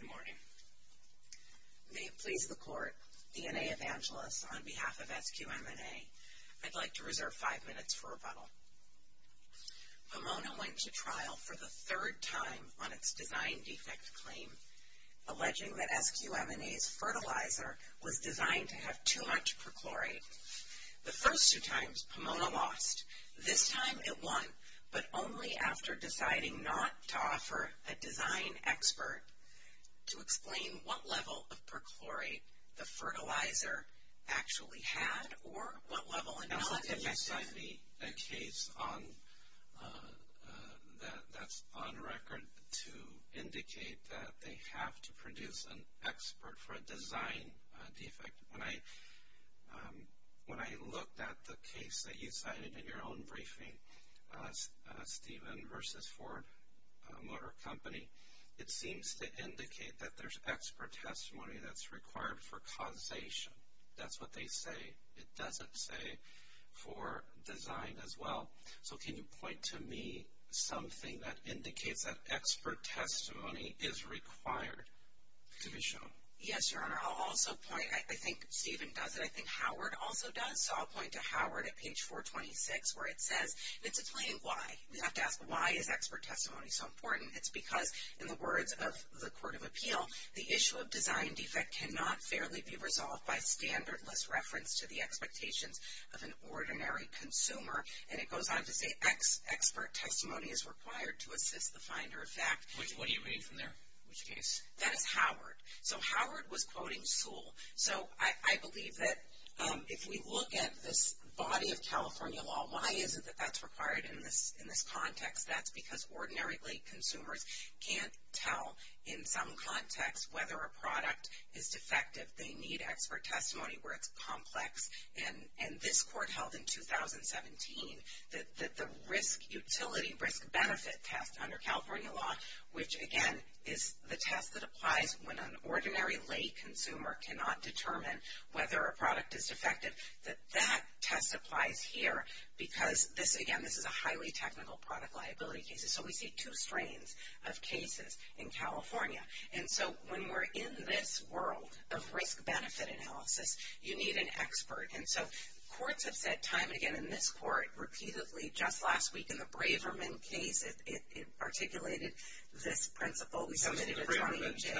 Good morning. May it please the court, DNA Evangelists, on behalf of SQM&A, I'd like to reserve five minutes for rebuttal. Pomona went to trial for the third time on its design defect claim, alleging that SQM&A's fertilizer was designed to have too much perchlorate. The first two times, Pomona lost. This time, it won, but only after deciding not to offer a design expert to explain what level of perchlorate the fertilizer actually had or what level it was effective in. You cited a case that's on record to indicate that they have to produce an expert for a design defect. When I looked at the case that you cited in your own briefing, Stephen v. Ford Motor Company, it seems to indicate that there's expert testimony that's required for causation. That's what they say. It doesn't say for design as well. So can you point to me something that indicates that expert testimony is required to be shown? Yes, Your Honor. I'll also point, I think Stephen does it, I think Howard also does, so I'll point to Howard at page 426 where it says, it's a plain why. We have to ask, why is expert testimony so important? It's because, in the words of the Court of Appeal, the issue of design defect cannot fairly be resolved by standardless reference to the expectations of an ordinary consumer. And it goes on to say, expert testimony is required to assist the finder of fact. What do you read from there? Which case? That is Howard. So Howard was quoting Sewell. So I believe that if we look at this body of California law, why is it that that's required in this context? That's because ordinarily consumers can't tell in some context whether a product is defective. They need expert testimony where it's complex. And this court held in 2017 that the risk utility, risk benefit test under California law, which again is the test that applies when an ordinary lay consumer cannot determine whether a product is defective, that that test applies here because this, again, this is a highly technical product liability case. So we see two strains of cases in California. And so when we're in this world of risk benefit analysis, you need an expert. And so courts have said time and again in this court, repeatedly, just last week in the Braverman case, it articulated this principle. We submitted a trial in jail.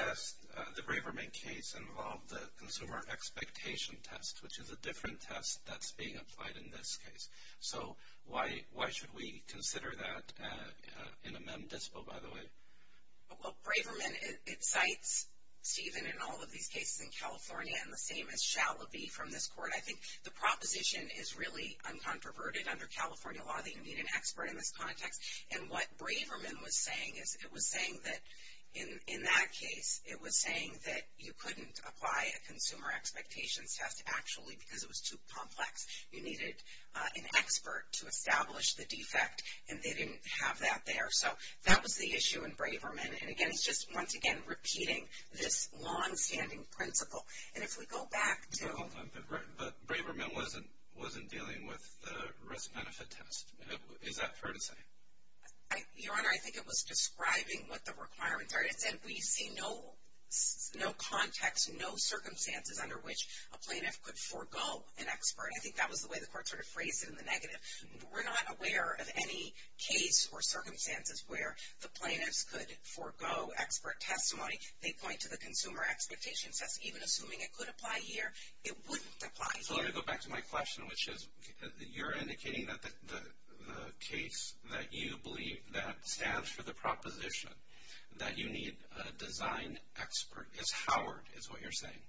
The Braverman case involved the consumer expectation test, which is a different test that's being applied in this case. So why should we consider that in a mem dispo, by the way? Well, Braverman, it cites Stephen in all of these cases in California and the same as Shalaby from this court. I think the proposition is really uncontroverted under California law that you need an expert in this context. And what Braverman was saying is it was saying that in that case, it was saying that you couldn't apply a consumer expectations test actually because it was too complex. You needed an expert to establish the defect. And they didn't have that there. So that was the issue in Braverman. And, again, it's just, once again, repeating this longstanding principle. And if we go back to — But Braverman wasn't dealing with the risk benefit test. Is that fair to say? Your Honor, I think it was describing what the requirements are. It said we see no context, no circumstances under which a plaintiff could forego an expert. I think that was the way the court sort of phrased it in the negative. We're not aware of any case or circumstances where the plaintiffs could forego expert testimony. They point to the consumer expectations test. Even assuming it could apply here, it wouldn't apply here. So let me go back to my question, which is you're indicating that the case that you believe that stands for the proposition, that you need a design expert, is Howard is what you're saying.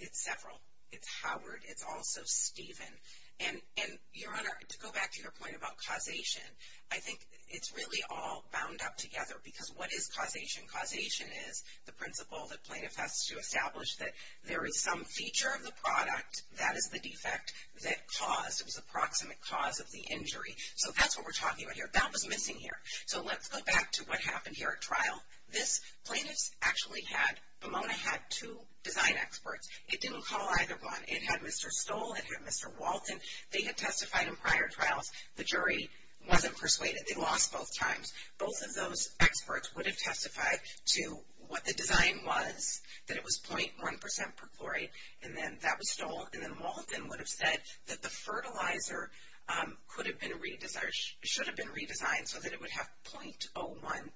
It's several. It's Howard. It's also Stephen. And, Your Honor, to go back to your point about causation, I think it's really all bound up together. Because what is causation? Causation is the principle that plaintiff has to establish that there is some feature of the product, that is the defect, that caused, it was the proximate cause of the injury. So that's what we're talking about here. That was missing here. So let's go back to what happened here at trial. This plaintiff's actually had, Pomona had two design experts. It didn't call either one. It had Mr. Stoll. It had Mr. Walton. They had testified in prior trials. The jury wasn't persuaded. They lost both times. Both of those experts would have testified to what the design was, that it was 0.1% per chlorate, and then that was stolen. And then Walton would have said that the fertilizer could have been redesigned or should have been redesigned so that it would have 0.01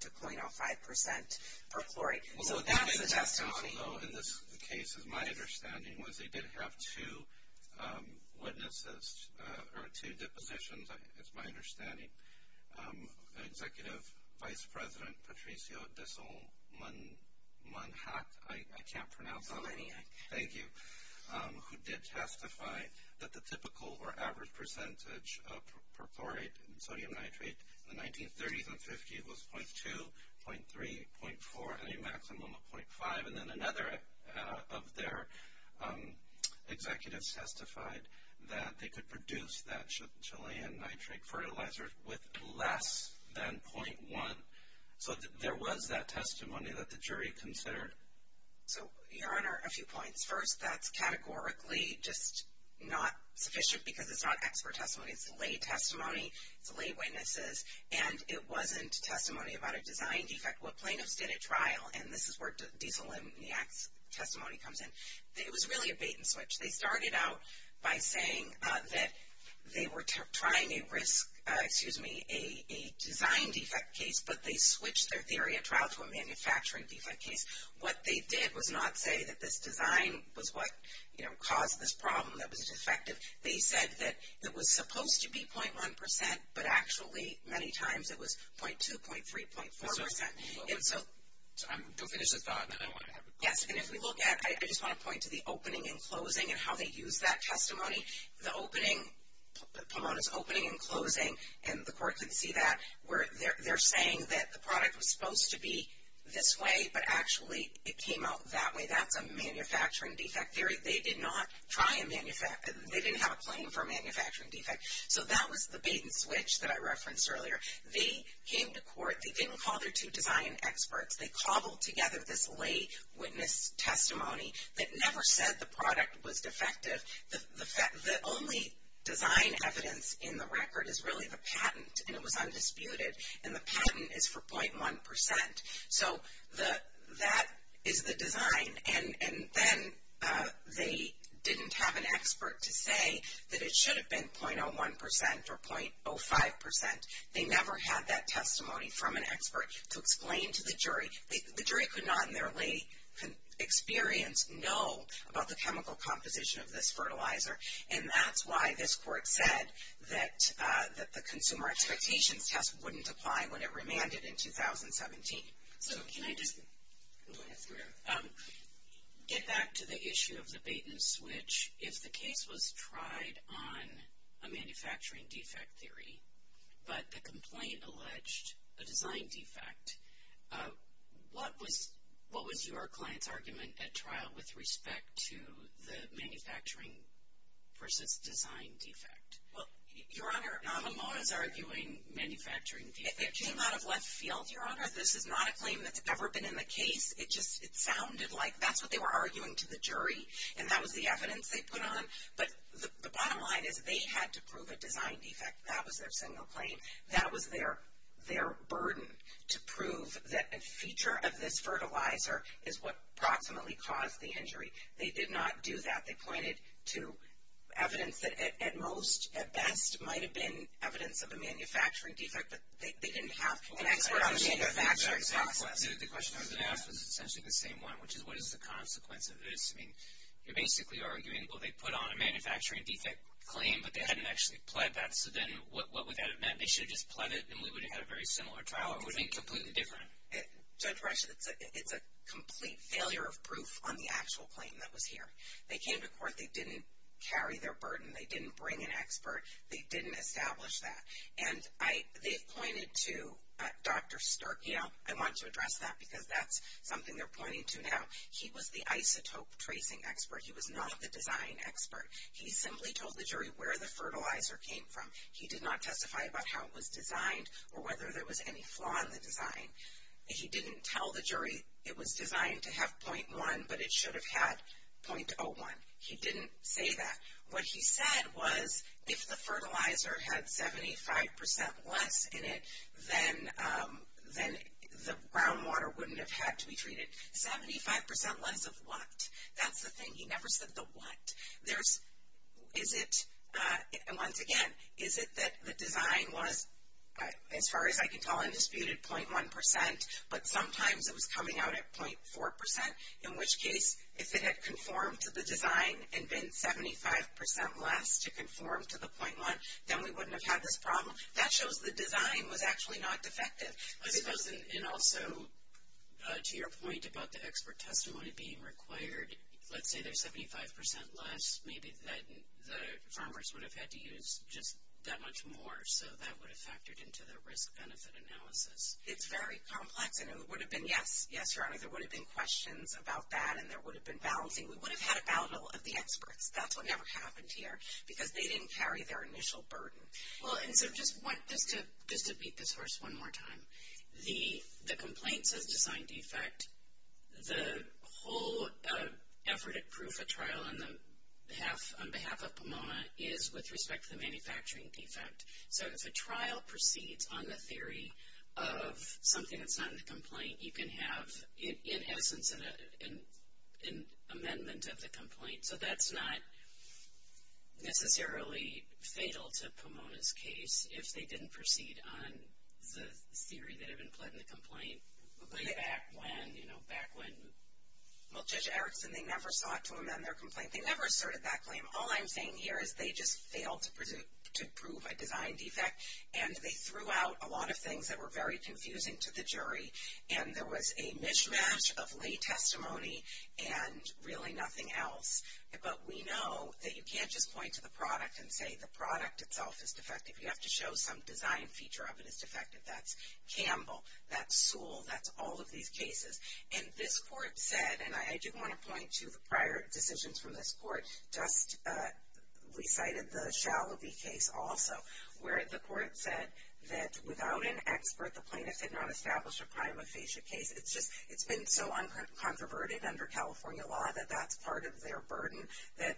to 0.05% per chloride. So that's the testimony. Although in this case, as my understanding was, they did have two witnesses or two depositions. It's my understanding. Executive Vice President Patricio Disselmanhack, I can't pronounce that. Thank you. who did testify that the typical or average percentage per chloride in sodium nitrate in the 1930s and 50s was 0.2, 0.3, 0.4, and a maximum of 0.5. And then another of their executives testified that they could produce that Chilean nitrate fertilizer with less than 0.1. So there was that testimony that the jury considered. So, Your Honor, a few points. First, that's categorically just not sufficient because it's not expert testimony. It's lay testimony. It's lay witnesses. And it wasn't testimony about a design defect. What plaintiffs did at trial, and this is where Disselmanhack's testimony comes in, it was really a bait and switch. They started out by saying that they were trying to risk a design defect case, but they switched their theory at trial to a manufacturing defect case. What they did was not say that this design was what caused this problem, that it was defective. They said that it was supposed to be 0.1 percent, but actually many times it was 0.2, 0.3, 0.4 percent. So I'm going to finish the thought, and then I want to have a close. Yes, and if we look at, I just want to point to the opening and closing and how they used that testimony. The opening, Pomona's opening and closing, and the court could see that, where they're saying that the product was supposed to be this way, but actually it came out that way. That's a manufacturing defect theory. They did not try and manufacture, they didn't have a claim for a manufacturing defect. So that was the bait and switch that I referenced earlier. They came to court. They didn't call their two design experts. They cobbled together this lay witness testimony that never said the product was defective. The only design evidence in the record is really the patent, and it was undisputed. And the patent is for 0.1 percent. So that is the design. And then they didn't have an expert to say that it should have been 0.01 percent or 0.05 percent. They never had that testimony from an expert to explain to the jury. The jury could not in their lay experience know about the chemical composition of this fertilizer, and that's why this court said that the consumer expectations test wouldn't apply when it remanded in 2017. So can I just get back to the issue of the bait and switch? If the case was tried on a manufacturing defect theory, but the complaint alleged a design defect, what was your client's argument at trial with respect to the manufacturing versus design defect? Well, Your Honor. Who was arguing manufacturing defect? It came out of left field, Your Honor. This is not a claim that's ever been in the case. It just sounded like that's what they were arguing to the jury, and that was the evidence they put on. But the bottom line is they had to prove a design defect. That was their single claim. That was their burden, to prove that a feature of this fertilizer is what approximately caused the injury. They did not do that. They pointed to evidence that at most, at best, might have been evidence of a manufacturing defect, but they didn't have an expert on the manufacturing process. The question I was going to ask was essentially the same one, which is what is the consequence of this? I mean, you're basically arguing, well, they put on a manufacturing defect claim, but they hadn't actually pled that. So then what would that have meant? They should have just pled it, and we would have had a very similar trial. It would have been completely different. Judge Brescia, it's a complete failure of proof on the actual claim that was here. They came to court. They didn't carry their burden. They didn't bring an expert. They didn't establish that. And they've pointed to Dr. Sturckow. I want to address that because that's something they're pointing to now. He was the isotope tracing expert. He was not the design expert. He simply told the jury where the fertilizer came from. He did not testify about how it was designed or whether there was any flaw in the design. He didn't tell the jury it was designed to have 0.1, but it should have had 0.01. He didn't say that. What he said was if the fertilizer had 75% less in it, then the groundwater wouldn't have had to be treated. 75% less of what? That's the thing. He never said the what. Once again, is it that the design was, as far as I can tell, undisputed 0.1%, but sometimes it was coming out at 0.4%? In which case, if it had conformed to the design and been 75% less to conform to the 0.1, then we wouldn't have had this problem. That shows the design was actually not defective. And also, to your point about the expert testimony being required, let's say they're 75% less. Maybe the farmers would have had to use just that much more, so that would have factored into the risk-benefit analysis. It's very complex, and it would have been yes. Yes, Your Honor, there would have been questions about that, and there would have been balancing. We would have had a battle of the experts. That's what never happened here because they didn't carry their initial burden. Well, and so just to beat this horse one more time, the complaint says design defect. The whole effort at proof of trial on behalf of POMOA is with respect to the manufacturing defect. So if a trial proceeds on the theory of something that's not in the complaint, you can have, in essence, an amendment of the complaint. So that's not necessarily fatal to Pomona's case if they didn't proceed on the theory that had been put in the complaint way back when, you know, back when. Well, Judge Erickson, they never sought to amend their complaint. They never asserted that claim. All I'm saying here is they just failed to prove a design defect, and they threw out a lot of things that were very confusing to the jury, and there was a mishmash of lay testimony and really nothing else. But we know that you can't just point to the product and say the product itself is defective. You have to show some design feature of it is defective. That's Campbell. That's Sewell. That's all of these cases. And this court said, and I do want to point to the prior decisions from this court, just recited the Shallowby case also, where the court said that without an expert, the plaintiff did not establish a prime aphasia case. It's just it's been so uncontroverted under California law that that's part of their burden, that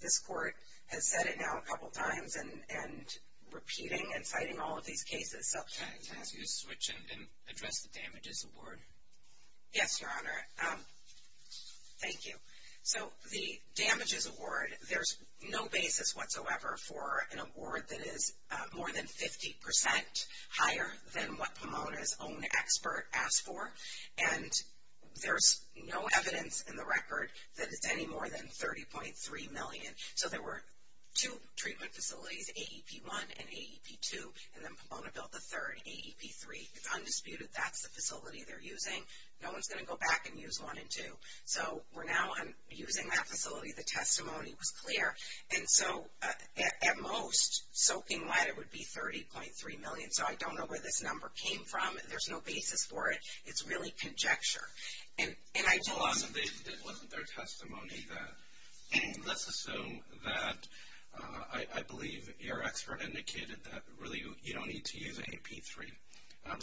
this court has said it now a couple times and repeating and citing all of these cases. Can I ask you to switch and then address the damages award? Yes, Your Honor. Thank you. So the damages award, there's no basis whatsoever for an award that is more than 50% higher than what Pomona's own expert asked for. And there's no evidence in the record that it's any more than $30.3 million. So there were two treatment facilities, AEP-1 and AEP-2, and then Pomona built the third, AEP-3. It's undisputed that's the facility they're using. No one's going to go back and use one and two. So we're now using that facility. The testimony was clear. And so at most, soaking wet, it would be $30.3 million. So I don't know where this number came from. There's no basis for it. It's really conjecture. Hold on. It wasn't their testimony. Let's assume that I believe your expert indicated that really you don't need to use AEP-3.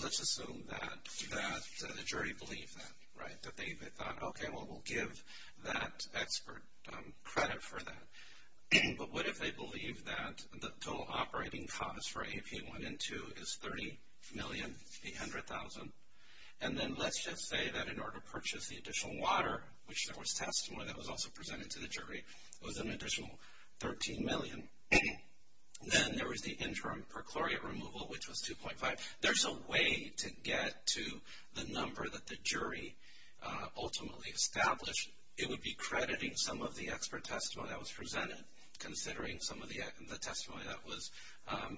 Let's assume that the jury believed that, right, that they thought, okay, well, we'll give that expert credit for that. But what if they believe that the total operating cost for AEP-1 and 2 is $30,800,000? And then let's just say that in order to purchase the additional water, which there was testimony that was also presented to the jury, it was an additional $13 million. Then there was the interim per chlorate removal, which was 2.5. There's a way to get to the number that the jury ultimately established. It would be crediting some of the expert testimony that was presented, considering some of the testimony that was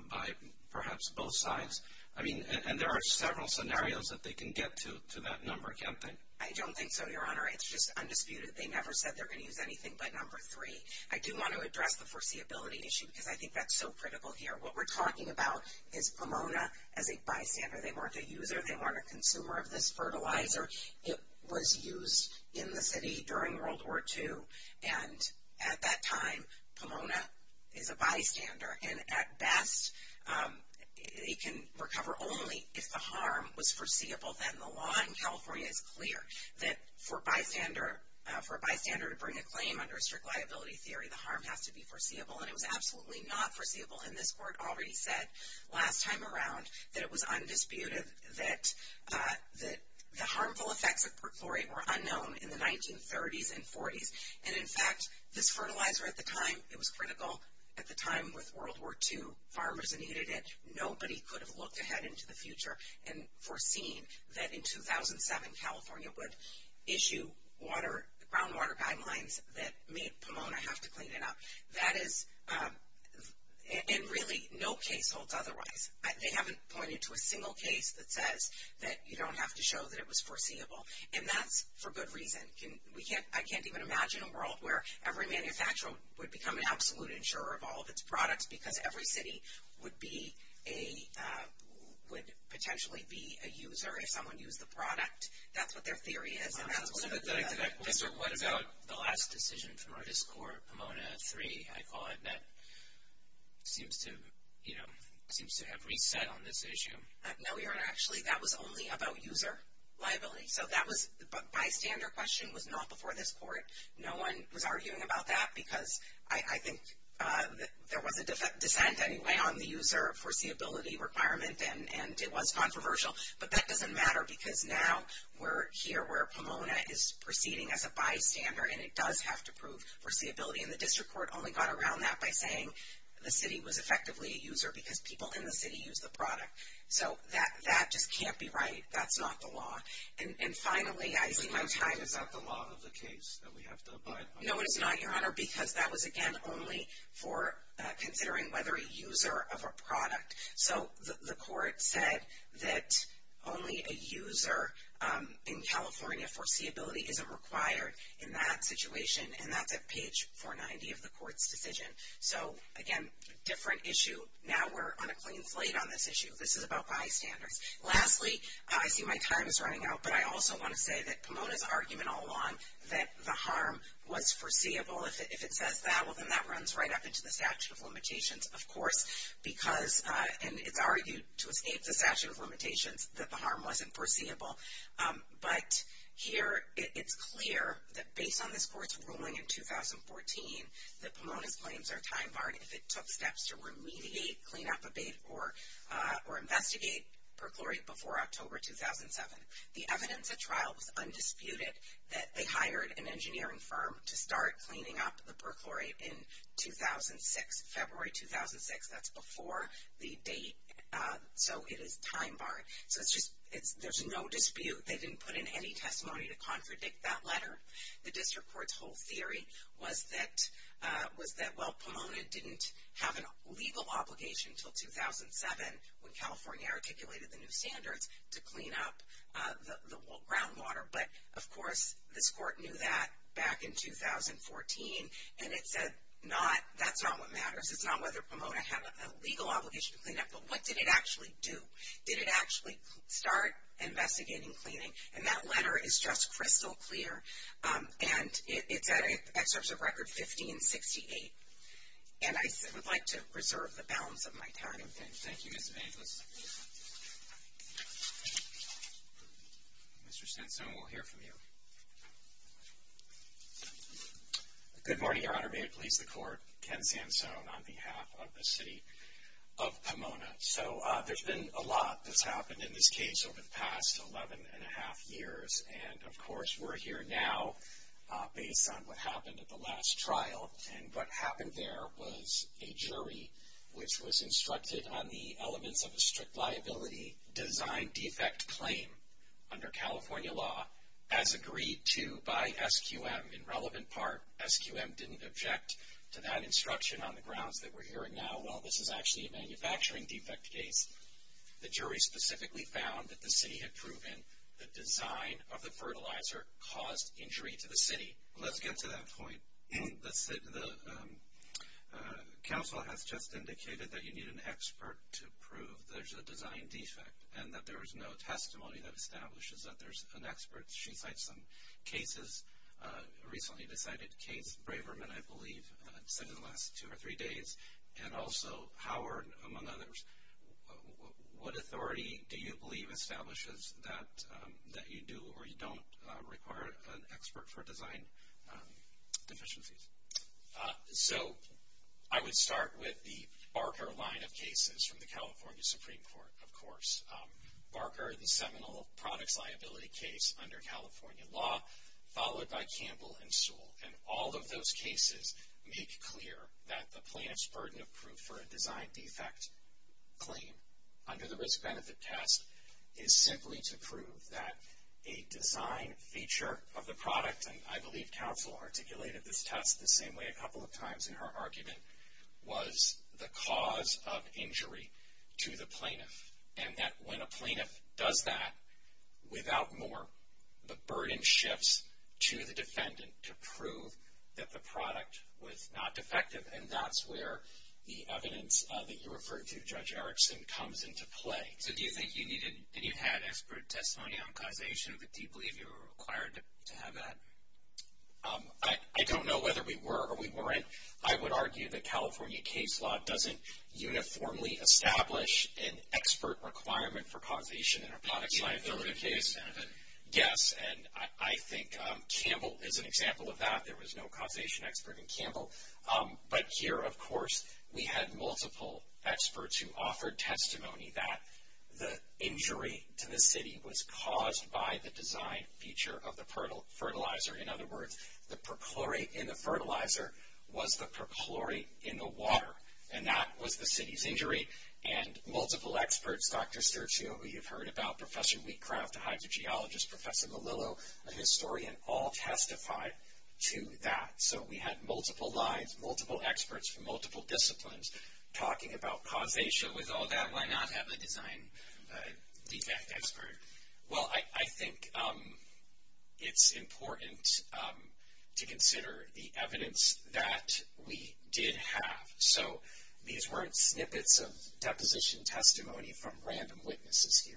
by perhaps both sides. I mean, and there are several scenarios that they can get to that number, can't they? I don't think so, Your Honor. It's just undisputed. They never said they're going to use anything but number three. I do want to address the foreseeability issue because I think that's so critical here. What we're talking about is Pomona as a bystander. They weren't a user. They weren't a consumer of this fertilizer. It was used in the city during World War II. And at that time, Pomona is a bystander. And at best, they can recover only if the harm was foreseeable. And the law in California is clear that for a bystander to bring a claim under a strict liability theory, the harm has to be foreseeable. And it was absolutely not foreseeable. And this Court already said last time around that it was undisputed that the harmful effects of perchlorate were unknown in the 1930s and 40s. And, in fact, this fertilizer at the time, it was critical at the time with World War II. Farmers needed it. Nobody could have looked ahead into the future and foreseen that in 2007, California would issue groundwater guidelines that made Pomona have to clean it up. That is in really no case holds otherwise. They haven't pointed to a single case that says that you don't have to show that it was foreseeable. And that's for good reason. I can't even imagine a world where every manufacturer would become an absolute insurer of all of its products because every city would potentially be a user if someone used the product. That's what their theory is. So what about the last decision from Artist Court, Pomona 3, I thought, that seems to have reset on this issue. No, Your Honor, actually that was only about user liability. So that was bystander question was not before this Court. No one was arguing about that because I think there was a dissent anyway on the user foreseeability requirement, and it was controversial. But that doesn't matter because now we're here where Pomona is proceeding as a bystander, and it does have to prove foreseeability. And the District Court only got around that by saying the city was effectively a user because people in the city used the product. So that just can't be right. That's not the law. And finally, I see my time is up. Is that the law of the case that we have to abide by? No, it is not, Your Honor, because that was, again, only for considering whether a user of a product. So the Court said that only a user in California, foreseeability isn't required in that situation, and that's at page 490 of the Court's decision. So, again, different issue. Now we're on a clean slate on this issue. This is about bystanders. Lastly, I see my time is running out, but I also want to say that Pomona's argument all along that the harm was foreseeable, if it says that, well, then that runs right up into the statute of limitations, of course, because, and it's argued to escape the statute of limitations, that the harm wasn't foreseeable. But here it's clear that based on this Court's ruling in 2014 that Pomona's claims are time-barred if it took steps to remediate, clean up, abate, or investigate perchlorate before October 2007. The evidence at trial was undisputed that they hired an engineering firm to start cleaning up the perchlorate in 2006, February 2006, that's before the date, so it is time-barred. So it's just, there's no dispute. They didn't put in any testimony to contradict that letter. The District Court's whole theory was that, well, Pomona didn't have a legal obligation until 2007 when California articulated the new standards to clean up the groundwater. But, of course, this Court knew that back in 2014, and it said that's not what matters. It's not whether Pomona had a legal obligation to clean up, but what did it actually do? Did it actually start investigating cleaning? And that letter is just crystal clear, and it's at Excerpts of Record 1568. And I would like to reserve the balance of my time. Thank you, Ms. Evangelos. Mr. Sansone, we'll hear from you. Good morning, Your Honor. May it please the Court. Ken Sansone on behalf of the City of Pomona. So there's been a lot that's happened in this case over the past 11 1⁄2 years, and, of course, we're here now based on what happened at the last trial. And what happened there was a jury which was instructed on the elements of a strict liability design defect claim under California law as agreed to by SQM in relevant part. SQM didn't object to that instruction on the grounds that we're hearing now, well, this is actually a manufacturing defect case. The jury specifically found that the city had proven the design of the fertilizer caused injury to the city. Let's get to that point. The council has just indicated that you need an expert to prove there's a design defect and that there is no testimony that establishes that there's an expert. She cited some cases, recently cited Case Braverman, I believe, since the last two or three days, and also Howard, among others. What authority do you believe establishes that you do or you don't require an expert for design deficiencies? So I would start with the Barker line of cases from the California Supreme Court, of course. Barker, the seminal products liability case under California law, followed by Campbell and Sewell. And all of those cases make clear that the plaintiff's burden of proof for a design defect claim under the risk-benefit test is simply to prove that a design feature of the product, and I believe counsel articulated this test the same way a couple of times in her argument, was the cause of injury to the plaintiff, and that when a plaintiff does that, without more, the burden shifts to the defendant to prove that the product was not defective, and that's where the evidence that you referred to, Judge Erickson, comes into play. So do you think you needed, did you have expert testimony on causation? Do you believe you were required to have that? I don't know whether we were or we weren't. I would argue that California case law doesn't uniformly establish an expert requirement for causation in a product liability case. Yes, and I think Campbell is an example of that. There was no causation expert in Campbell. But here, of course, we had multiple experts who offered testimony that the injury to the city was caused by the design feature of the fertilizer. In other words, the perchlorate in the fertilizer was the perchlorate in the water, and that was the city's injury. And multiple experts, Dr. Sturzio, who you've heard about, Professor Wheatcraft, a hydrogeologist, Professor Malillo, a historian, all testified to that. So we had multiple lines, multiple experts from multiple disciplines talking about causation. With all that, why not have a design defect expert? Well, I think it's important to consider the evidence that we did have. So these weren't snippets of deposition testimony from random witnesses here.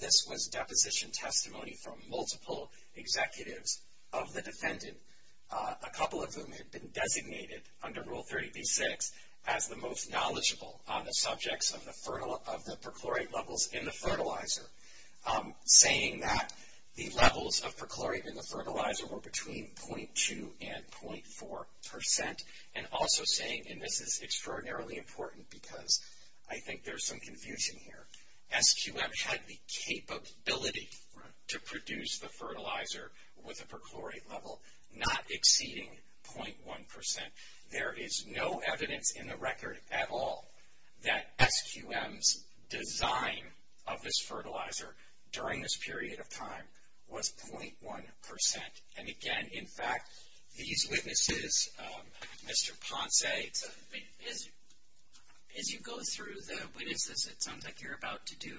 This was deposition testimony from multiple executives of the defendant, a couple of whom had been designated under Rule 30b-6 as the most knowledgeable on the subjects of the perchlorate levels in the fertilizer, saying that the levels of perchlorate in the fertilizer were between 0.2 and 0.4 percent, and also saying, and this is extraordinarily important because I think there's some confusion here, SQM had the capability to produce the fertilizer with a perchlorate level not exceeding 0.1 percent. There is no evidence in the record at all that SQM's design of this fertilizer during this period of time was 0.1 percent. And again, in fact, these witnesses, Mr. Ponce, as you go through the witnesses, it sounds like you're about to do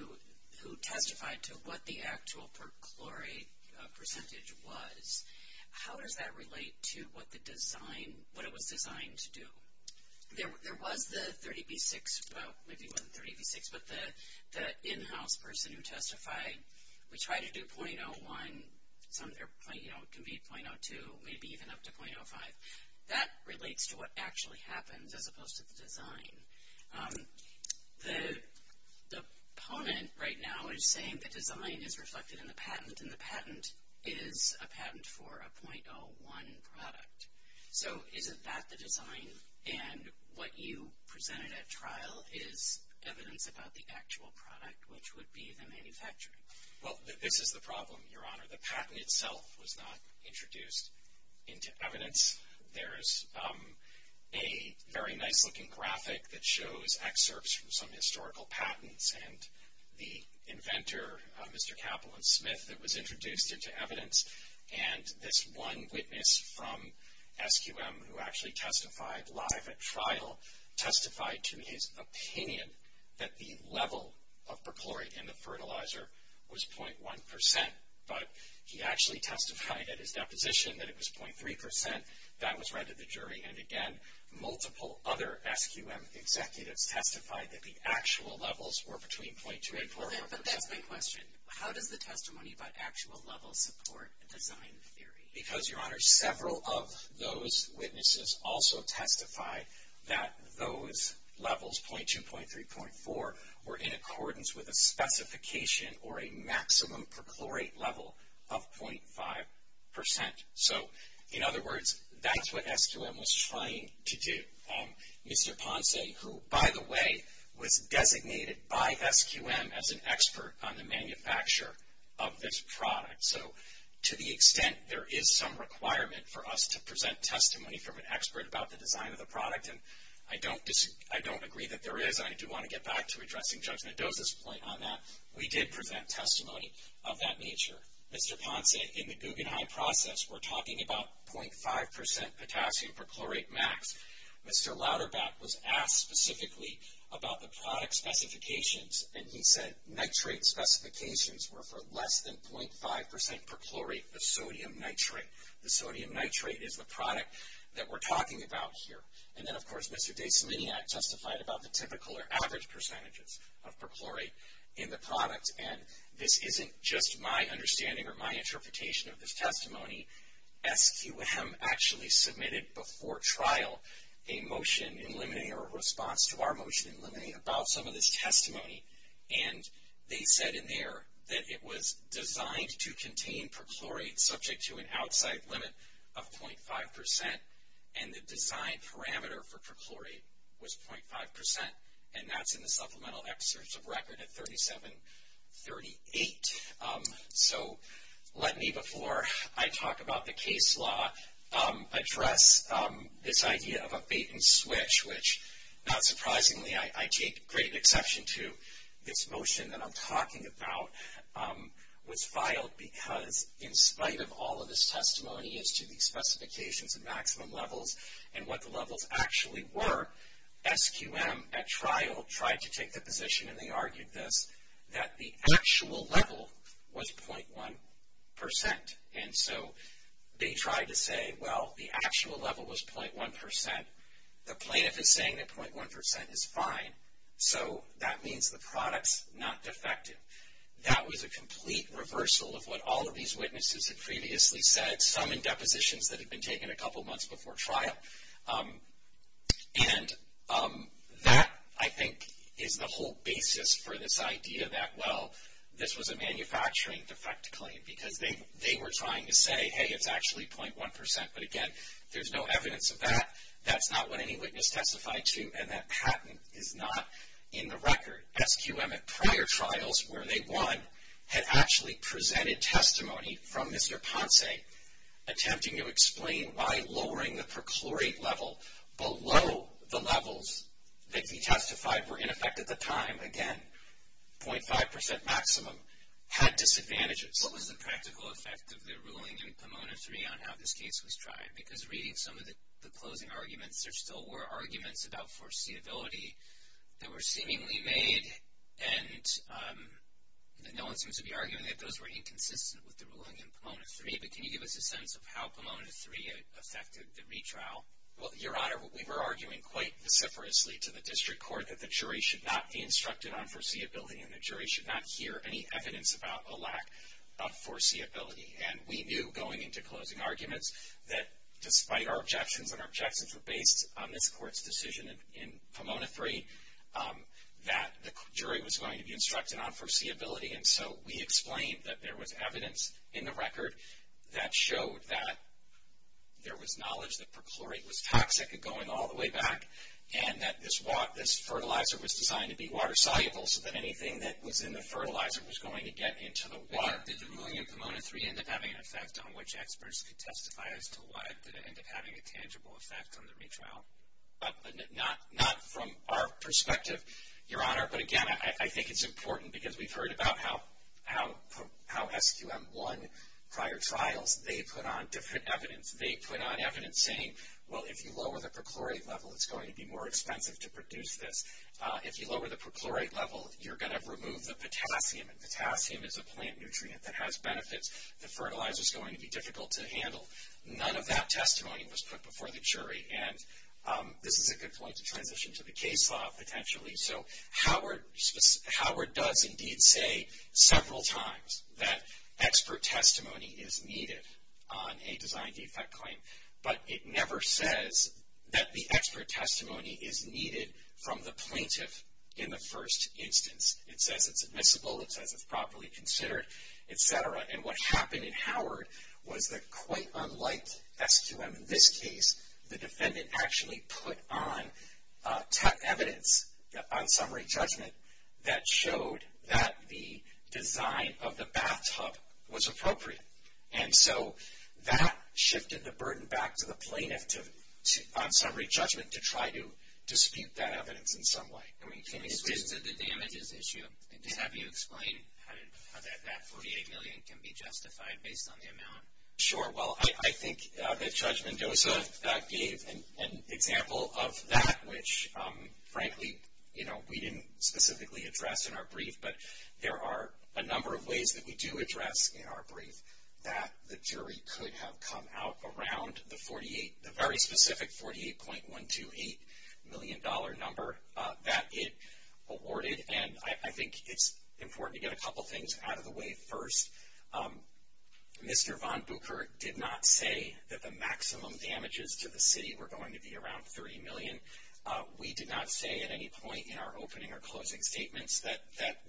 who testified to what the actual perchlorate percentage was. How does that relate to what the design, what it was designed to do? There was the 30b-6, well, maybe it wasn't 30b-6, but the in-house person who testified. We tried to do 0.01, it can be 0.02, maybe even up to 0.05. That relates to what actually happens as opposed to the design. The opponent right now is saying the design is reflected in the patent, and the patent is a patent for a 0.01 product. So isn't that the design, and what you presented at trial is evidence about the actual product, which would be the manufacturing. Well, this is the problem, Your Honor. The patent itself was not introduced into evidence. There's a very nice-looking graphic that shows excerpts from some historical patents, and the inventor, Mr. Kaplan Smith, that was introduced into evidence, and this one witness from SQM who actually testified live at trial testified to his opinion that the level of perchlorate in the fertilizer was 0.1 percent, but he actually testified at his deposition that it was 0.3 percent. That was read to the jury, and, again, multiple other SQM executives testified that the actual levels were between 0.2 and 0.4 percent. But that's my question. How does the testimony about actual levels support design theory? Because, Your Honor, several of those witnesses also testified that those levels, 0.2, 0.3, 0.4, were in accordance with a specification or a maximum perchlorate level of 0.5 percent. So, in other words, that's what SQM was trying to do. Mr. Ponce, who, by the way, was designated by SQM as an expert on the manufacture of this product. So, to the extent there is some requirement for us to present testimony from an expert about the design of the product, and I don't agree that there is, and I do want to get back to addressing Judge Mendoza's point on that, we did present testimony of that nature. Mr. Ponce, in the Guggenheim process, we're talking about 0.5 percent potassium perchlorate max. Mr. Lauderback was asked specifically about the product specifications, and he said nitrate specifications were for less than 0.5 percent perchlorate of sodium nitrate. The sodium nitrate is the product that we're talking about here. And then, of course, Mr. Dasominiak testified about the typical or average percentages of perchlorate in the product. And this isn't just my understanding or my interpretation of this testimony. SQM actually submitted before trial a motion in limine or a response to our motion in limine about some of this testimony, and they said in there that it was designed to contain perchlorate subject to an outside limit of 0.5 percent, and the design parameter for perchlorate was 0.5 percent, and that's in the supplemental excerpts of record at 3738. So let me, before I talk about the case law, address this idea of a bait and switch, which not surprisingly, I take great exception to this motion that I'm talking about, was filed because in spite of all of this testimony as to the specifications and maximum levels and what the levels actually were, SQM at trial tried to take the position, and they argued this, that the actual level was 0.1 percent. And so they tried to say, well, the actual level was 0.1 percent. The plaintiff is saying that 0.1 percent is fine, so that means the product's not defective. That was a complete reversal of what all of these witnesses had previously said, some in depositions that had been taken a couple months before trial. And that, I think, is the whole basis for this idea that, well, this was a manufacturing defect claim because they were trying to say, hey, it's actually 0.1 percent. But again, there's no evidence of that. That's not what any witness testified to, and that patent is not in the record. SQM at prior trials where they won had actually presented testimony from Mr. Ponce, attempting to explain why lowering the perchlorate level below the levels that he testified were in effect at the time, again, 0.5 percent maximum, had disadvantages. What was the practical effect of the ruling in Pomona 3 on how this case was tried? Because reading some of the closing arguments, there still were arguments about foreseeability that were seemingly made, and no one seems to be arguing that those were inconsistent with the ruling in Pomona 3. But can you give us a sense of how Pomona 3 affected the retrial? Well, Your Honor, we were arguing quite vociferously to the district court that the jury should not be instructed on foreseeability and the jury should not hear any evidence about a lack of foreseeability. And we knew going into closing arguments that despite our objections, and our objections were based on this court's decision in Pomona 3, that the jury was going to be instructed on foreseeability. And so we explained that there was evidence in the record that showed that there was knowledge that perchlorate was toxic going all the way back, and that this fertilizer was designed to be water-soluble, so that anything that was in the fertilizer was going to get into the water. Did the ruling in Pomona 3 end up having an effect on which experts could testify as to why did it end up having a tangible effect on the retrial? But not from our perspective, Your Honor. But again, I think it's important because we've heard about how SQM 1 prior trials, they put on different evidence. They put on evidence saying, well, if you lower the perchlorate level, it's going to be more expensive to produce this. If you lower the perchlorate level, you're going to remove the potassium, and potassium is a plant nutrient that has benefits that fertilizer is going to be difficult to handle. None of that testimony was put before the jury, and this is a good point to transition to the case law potentially. So Howard does indeed say several times that expert testimony is needed on a design defect claim, but it never says that the expert testimony is needed from the plaintiff in the first instance. It says it's admissible. It says it's properly considered, et cetera, and what happened in Howard was that quite unlike SQM in this case, the defendant actually put on evidence on summary judgment that showed that the design of the bathtub was appropriate, and so that shifted the burden back to the plaintiff on summary judgment to try to dispute that evidence in some way. Can you explain? It's just that the damage is an issue. Just have you explain how that $48 million can be justified based on the amount. Sure. Well, I think that Judge Mendoza gave an example of that, which frankly, you know, we didn't specifically address in our brief, but there are a number of ways that we do address in our brief that the jury could have come out around the 48, the very specific $48.128 million number that it awarded, and I think it's important to get a couple things out of the way first. Mr. von Buchert did not say that the maximum damages to the city were going to be around $30 million. We did not say at any point in our opening or closing statements that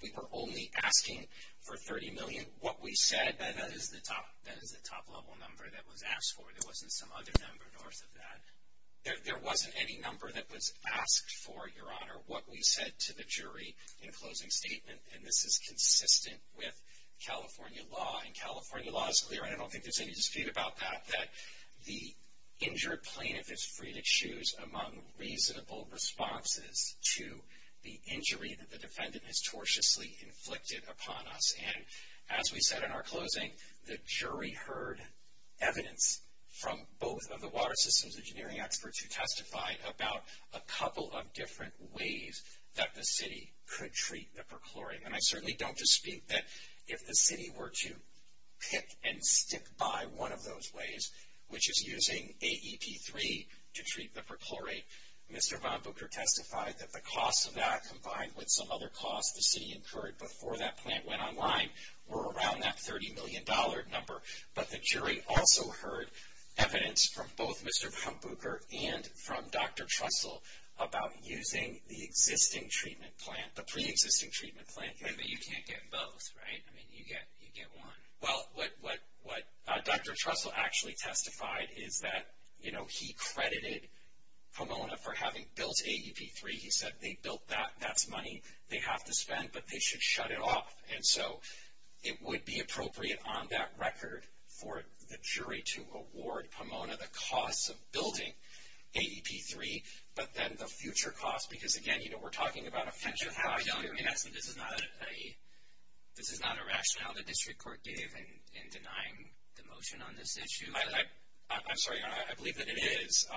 we were only asking for $30 million. What we said, that is the top-level number that was asked for. There wasn't some other number north of that. There wasn't any number that was asked for, Your Honor, what we said to the jury in closing statement, and this is consistent with California law, and California law is clear, and I don't think there's any dispute about that, that the injured plaintiff is free to choose among reasonable responses to the injury that the defendant has tortiously inflicted upon us, and as we said in our closing, the jury heard evidence from both of the water systems engineering experts who testified about a couple of different ways that the city could treat the perchlorium, and I certainly don't dispute that if the city were to pick and stick by one of those ways, which is using AEP-3 to treat the perchlorate, Mr. von Buchert testified that the cost of that combined with some other costs the city incurred before that plant went online were around that $30 million number, but the jury also heard evidence from both Mr. von Buchert and from Dr. Trussell about using the existing treatment plant, the pre-existing treatment plant. But you can't get both, right? I mean, you get one. Well, what Dr. Trussell actually testified is that, you know, he credited Pomona for having built AEP-3. He said they built that, that's money they have to spend, but they should shut it off, and so it would be appropriate on that record for the jury to award Pomona the costs of building AEP-3, but then the future costs, because, again, you know, we're talking about a future cost here. Actually, this is not a rationale the district court gave in denying the motion on this issue. I'm sorry, I believe that it is.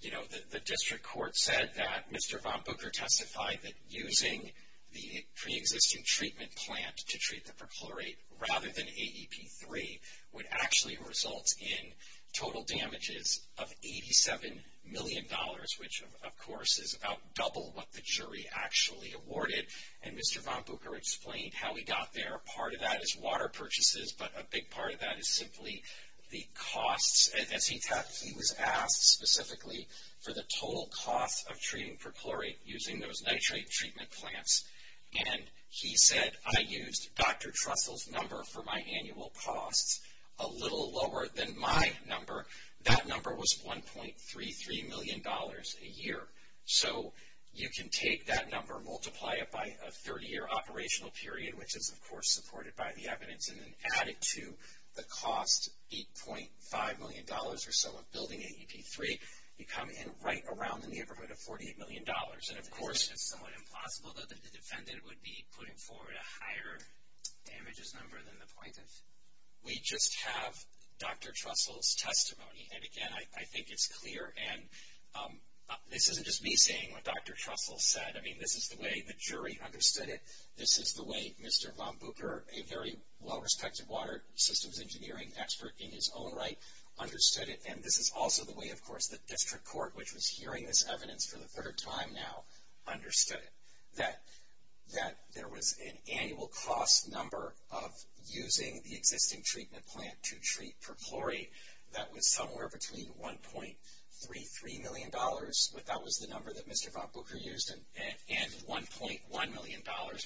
You know, the district court said that Mr. von Buchert testified that using the pre-existing treatment plant to treat the perchlorate rather than AEP-3 would actually result in total damages of $87 million, which, of course, is about double what the jury actually awarded, and Mr. von Buchert explained how he got there. Part of that is water purchases, but a big part of that is simply the costs. As he was asked specifically for the total cost of treating perchlorate using those nitrate treatment plants, and he said, I used Dr. Trussell's number for my annual costs, a little lower than my number. That number was $1.33 million a year, so you can take that number, multiply it by a 30-year operational period, which is, of course, supported by the evidence, and then add it to the cost, $8.5 million or so of building AEP-3, you come in right around the neighborhood of $48 million. And, of course, it's somewhat implausible that the defendant would be putting forward a higher damages number than the plaintiff. We just have Dr. Trussell's testimony, and again, I think it's clear. And this isn't just me saying what Dr. Trussell said. I mean, this is the way the jury understood it. This is the way Mr. von Bucher, a very well-respected water systems engineering expert in his own right, understood it. And this is also the way, of course, the district court, which was hearing this evidence for the third time now, understood it. That there was an annual cost number of using the existing treatment plant to treat perchlorate that was somewhere between $1.33 million, but that was the number that Mr. von Bucher used, and $1.1 million,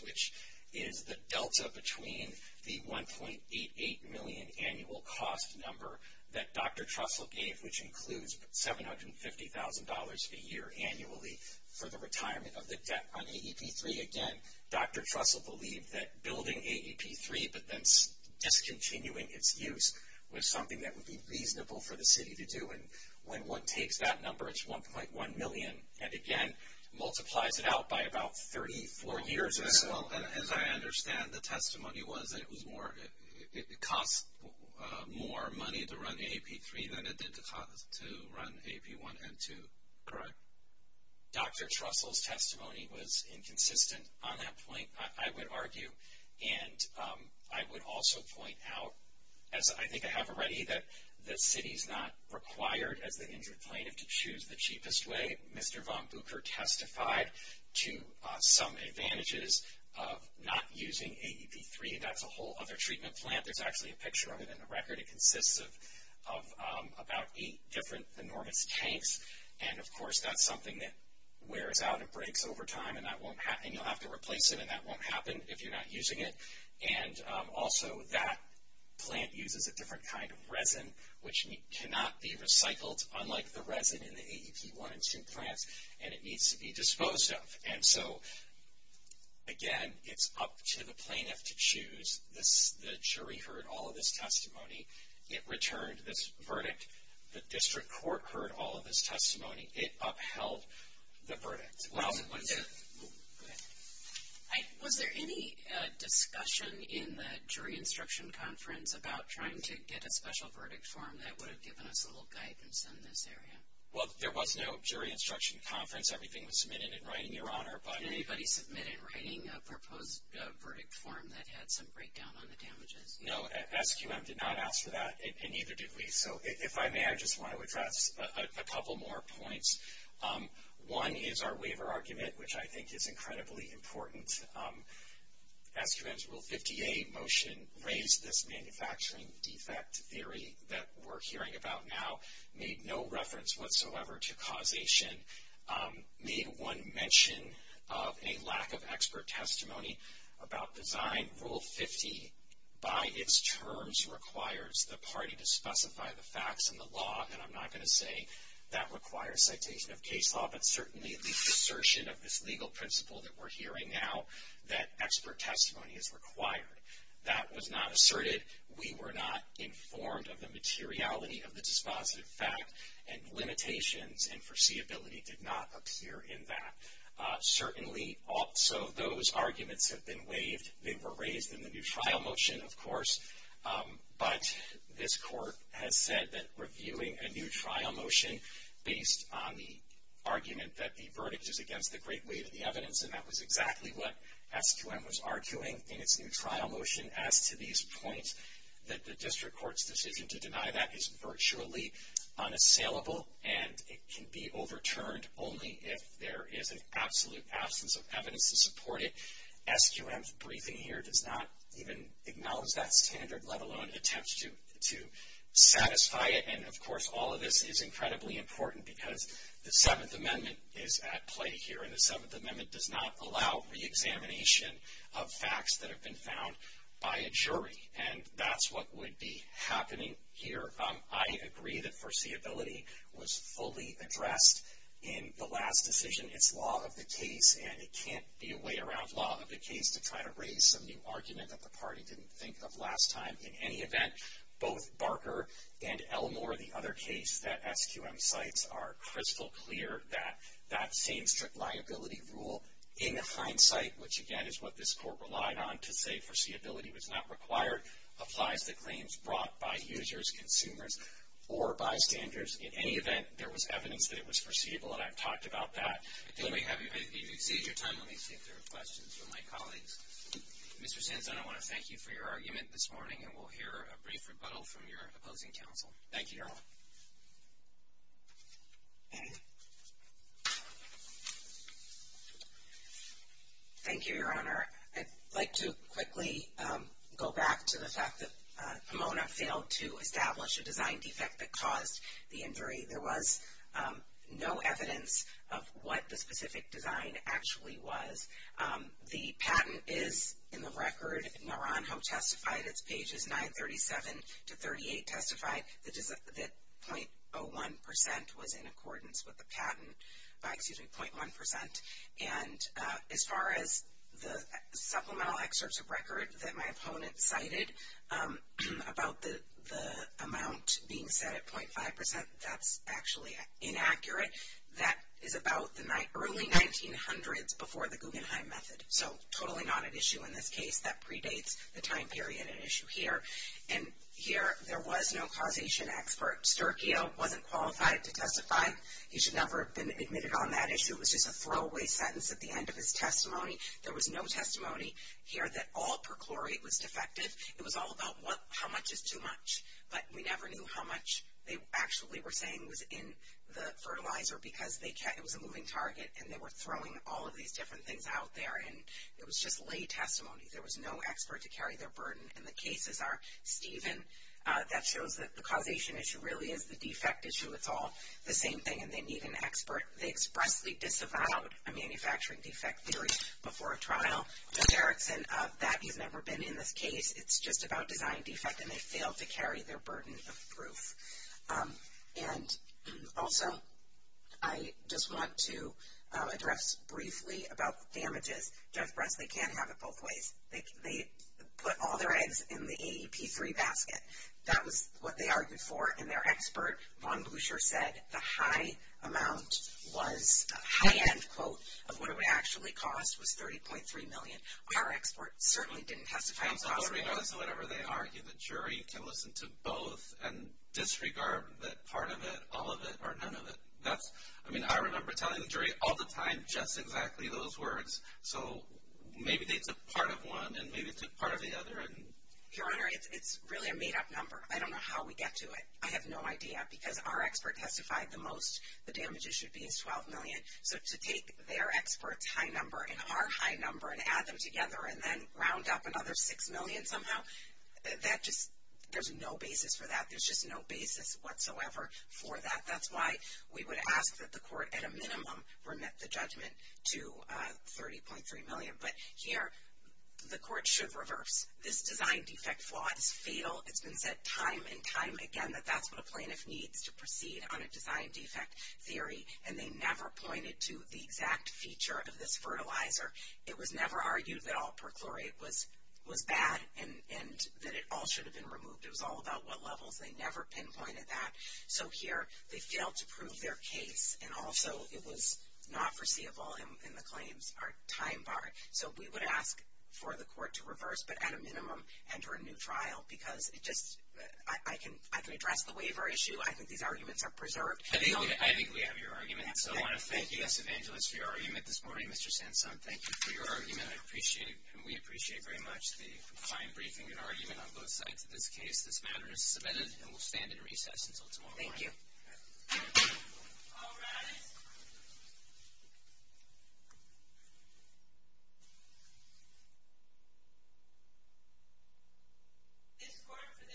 which is the delta between the $1.88 million annual cost number that Dr. Trussell gave, which includes $750,000 a year annually for the retirement of the debt on AEP-3. Again, Dr. Trussell believed that building AEP-3 but then discontinuing its use was something that would be reasonable for the city to do. And when one takes that number, it's $1.1 million. And again, multiplies it out by about 34 years or so. And as I understand, the testimony was that it cost more money to run AEP-3 than it did to run AEP-1 and 2, correct? Dr. Trussell's testimony was inconsistent on that point, I would argue. And I would also point out, as I think I have already, that the city is not required as the injured plaintiff to choose the cheapest way. Mr. von Bucher testified to some advantages of not using AEP-3. That's a whole other treatment plant. There's actually a picture of it in the record. It consists of about eight different enormous tanks. And of course, that's something that wears out and breaks over time, and you'll have to replace it, and that won't happen if you're not using it. And also, that plant uses a different kind of resin, which cannot be recycled, unlike the resin in the AEP-1 and 2 plants, and it needs to be disposed of. And so, again, it's up to the plaintiff to choose. The jury heard all of his testimony. It returned this verdict. The district court heard all of his testimony. It upheld the verdict. Was there any discussion in the jury instruction conference about trying to get a special verdict form that would have given us a little guidance in this area? Well, there was no jury instruction conference. Everything was submitted in writing, Your Honor. Did anybody submit in writing a proposed verdict form that had some breakdown on the damages? No, SQM did not ask for that, and neither did we. So, if I may, I just want to address a couple more points. One is our waiver argument, which I think is incredibly important. SQM's Rule 50A motion raised this manufacturing defect theory that we're hearing about now, made no reference whatsoever to causation, made one mention of a lack of expert testimony about design. Rule 50, by its terms, requires the party to specify the facts in the law. And I'm not going to say that requires citation of case law, but certainly the assertion of this legal principle that we're hearing now, that expert testimony is required. That was not asserted. We were not informed of the materiality of the dispositive fact, and limitations and foreseeability did not appear in that. Certainly, also, those arguments have been waived. They were raised in the new trial motion, of course, but this Court has said that reviewing a new trial motion based on the argument that the verdict is against the great weight of the evidence, and that was exactly what SQM was arguing in its new trial motion. As to these points, that the district court's decision to deny that is virtually unassailable, and it can be overturned only if there is an absolute absence of evidence to support it. SQM's briefing here does not even acknowledge that standard, let alone attempt to satisfy it. And, of course, all of this is incredibly important because the Seventh Amendment is at play here, and the Seventh Amendment does not allow reexamination of facts that have been found by a jury, and that's what would be happening here. I agree that foreseeability was fully addressed in the last decision. It's law of the case, and it can't be a way around law of the case to try to raise some new argument that the party didn't think of last time. In any event, both Barker and Elmore, the other case that SQM cites are crystal clear that that same strict liability rule, in hindsight, which, again, is what this Court relied on to say foreseeability was not required, applies to claims brought by users, consumers, or bystanders. In any event, there was evidence that it was foreseeable, and I've talked about that. If you could save your time, let me see if there are questions from my colleagues. Mr. Sands, I want to thank you for your argument this morning, and we'll hear a brief rebuttal from your opposing counsel. Thank you, Your Honor. Thank you, Your Honor. I'd like to quickly go back to the fact that Pomona failed to establish a design defect that caused the injury. There was no evidence of what the specific design actually was. The patent is in the record. Naranjo testified. Its pages 937 to 38 testify that 0.01% was in accordance with the patent, 0.1%. And as far as the supplemental excerpts of record that my opponent cited about the amount being set at 0.5%, that's actually inaccurate. That is about the early 1900s before the Guggenheim Method. So, totally not an issue in this case. That predates the time period and issue here. And here, there was no causation expert. Sterchio wasn't qualified to testify. He should never have been admitted on that issue. It was just a throwaway sentence at the end of his testimony. There was no testimony here that all perchlorate was defective. It was all about how much is too much. But we never knew how much they actually were saying was in the fertilizer because it was a moving target, and they were throwing all of these different things out there. And it was just lay testimony. There was no expert to carry their burden. And the cases are, Stephen, that shows that the causation issue really is the defect issue. It's all the same thing, and they need an expert. They expressly disavowed a manufacturing defect theory before a trial. Mr. Erickson, that has never been in this case. It's just about design defect, and they failed to carry their burden of proof. And also, I just want to address briefly about damages. Jeff Bresley can't have it both ways. They put all their eggs in the AEP-3 basket. That was what they argued for, and their expert, Von Buescher, said the high amount was, a high-end quote of what it would actually cost was $30.3 million. Our expert certainly didn't testify. And so regardless of whatever they argue, the jury can listen to both and disregard that part of it, all of it, or none of it. I mean, I remember telling the jury all the time just exactly those words. So maybe they took part of one and maybe took part of the other. Your Honor, it's really a made-up number. I don't know how we get to it. I have no idea because our expert testified the most the damages should be is $12 million. So to take their expert's high number and our high number and add them together and then round up another $6 million somehow, that just, there's no basis for that. There's just no basis whatsoever for that. That's why we would ask that the court at a minimum remit the judgment to $30.3 million. But here, the court should reverse. This design defect flaw is fatal. It's been said time and time again that that's what a plaintiff needs to proceed on a design defect theory, and they never pointed to the exact feature of this fertilizer. It was never argued that all perchlorate was bad and that it all should have been removed. It was all about what levels. They never pinpointed that. So here, they failed to prove their case, and also it was not foreseeable, and the claims are time-barred. So we would ask for the court to reverse, but at a minimum enter a new trial because it just, I can address the waiver issue. I think these arguments are preserved. I think we have your argument. So I want to thank you, Ms. Evangelist, for your argument this morning. Mr. Sanson, thank you for your argument. I appreciate it, and we appreciate very much the fine briefing and argument on both sides of this case. This matter is submitted and will stand in recess until tomorrow morning. Thank you. All rise. This court for this session stands adjourned.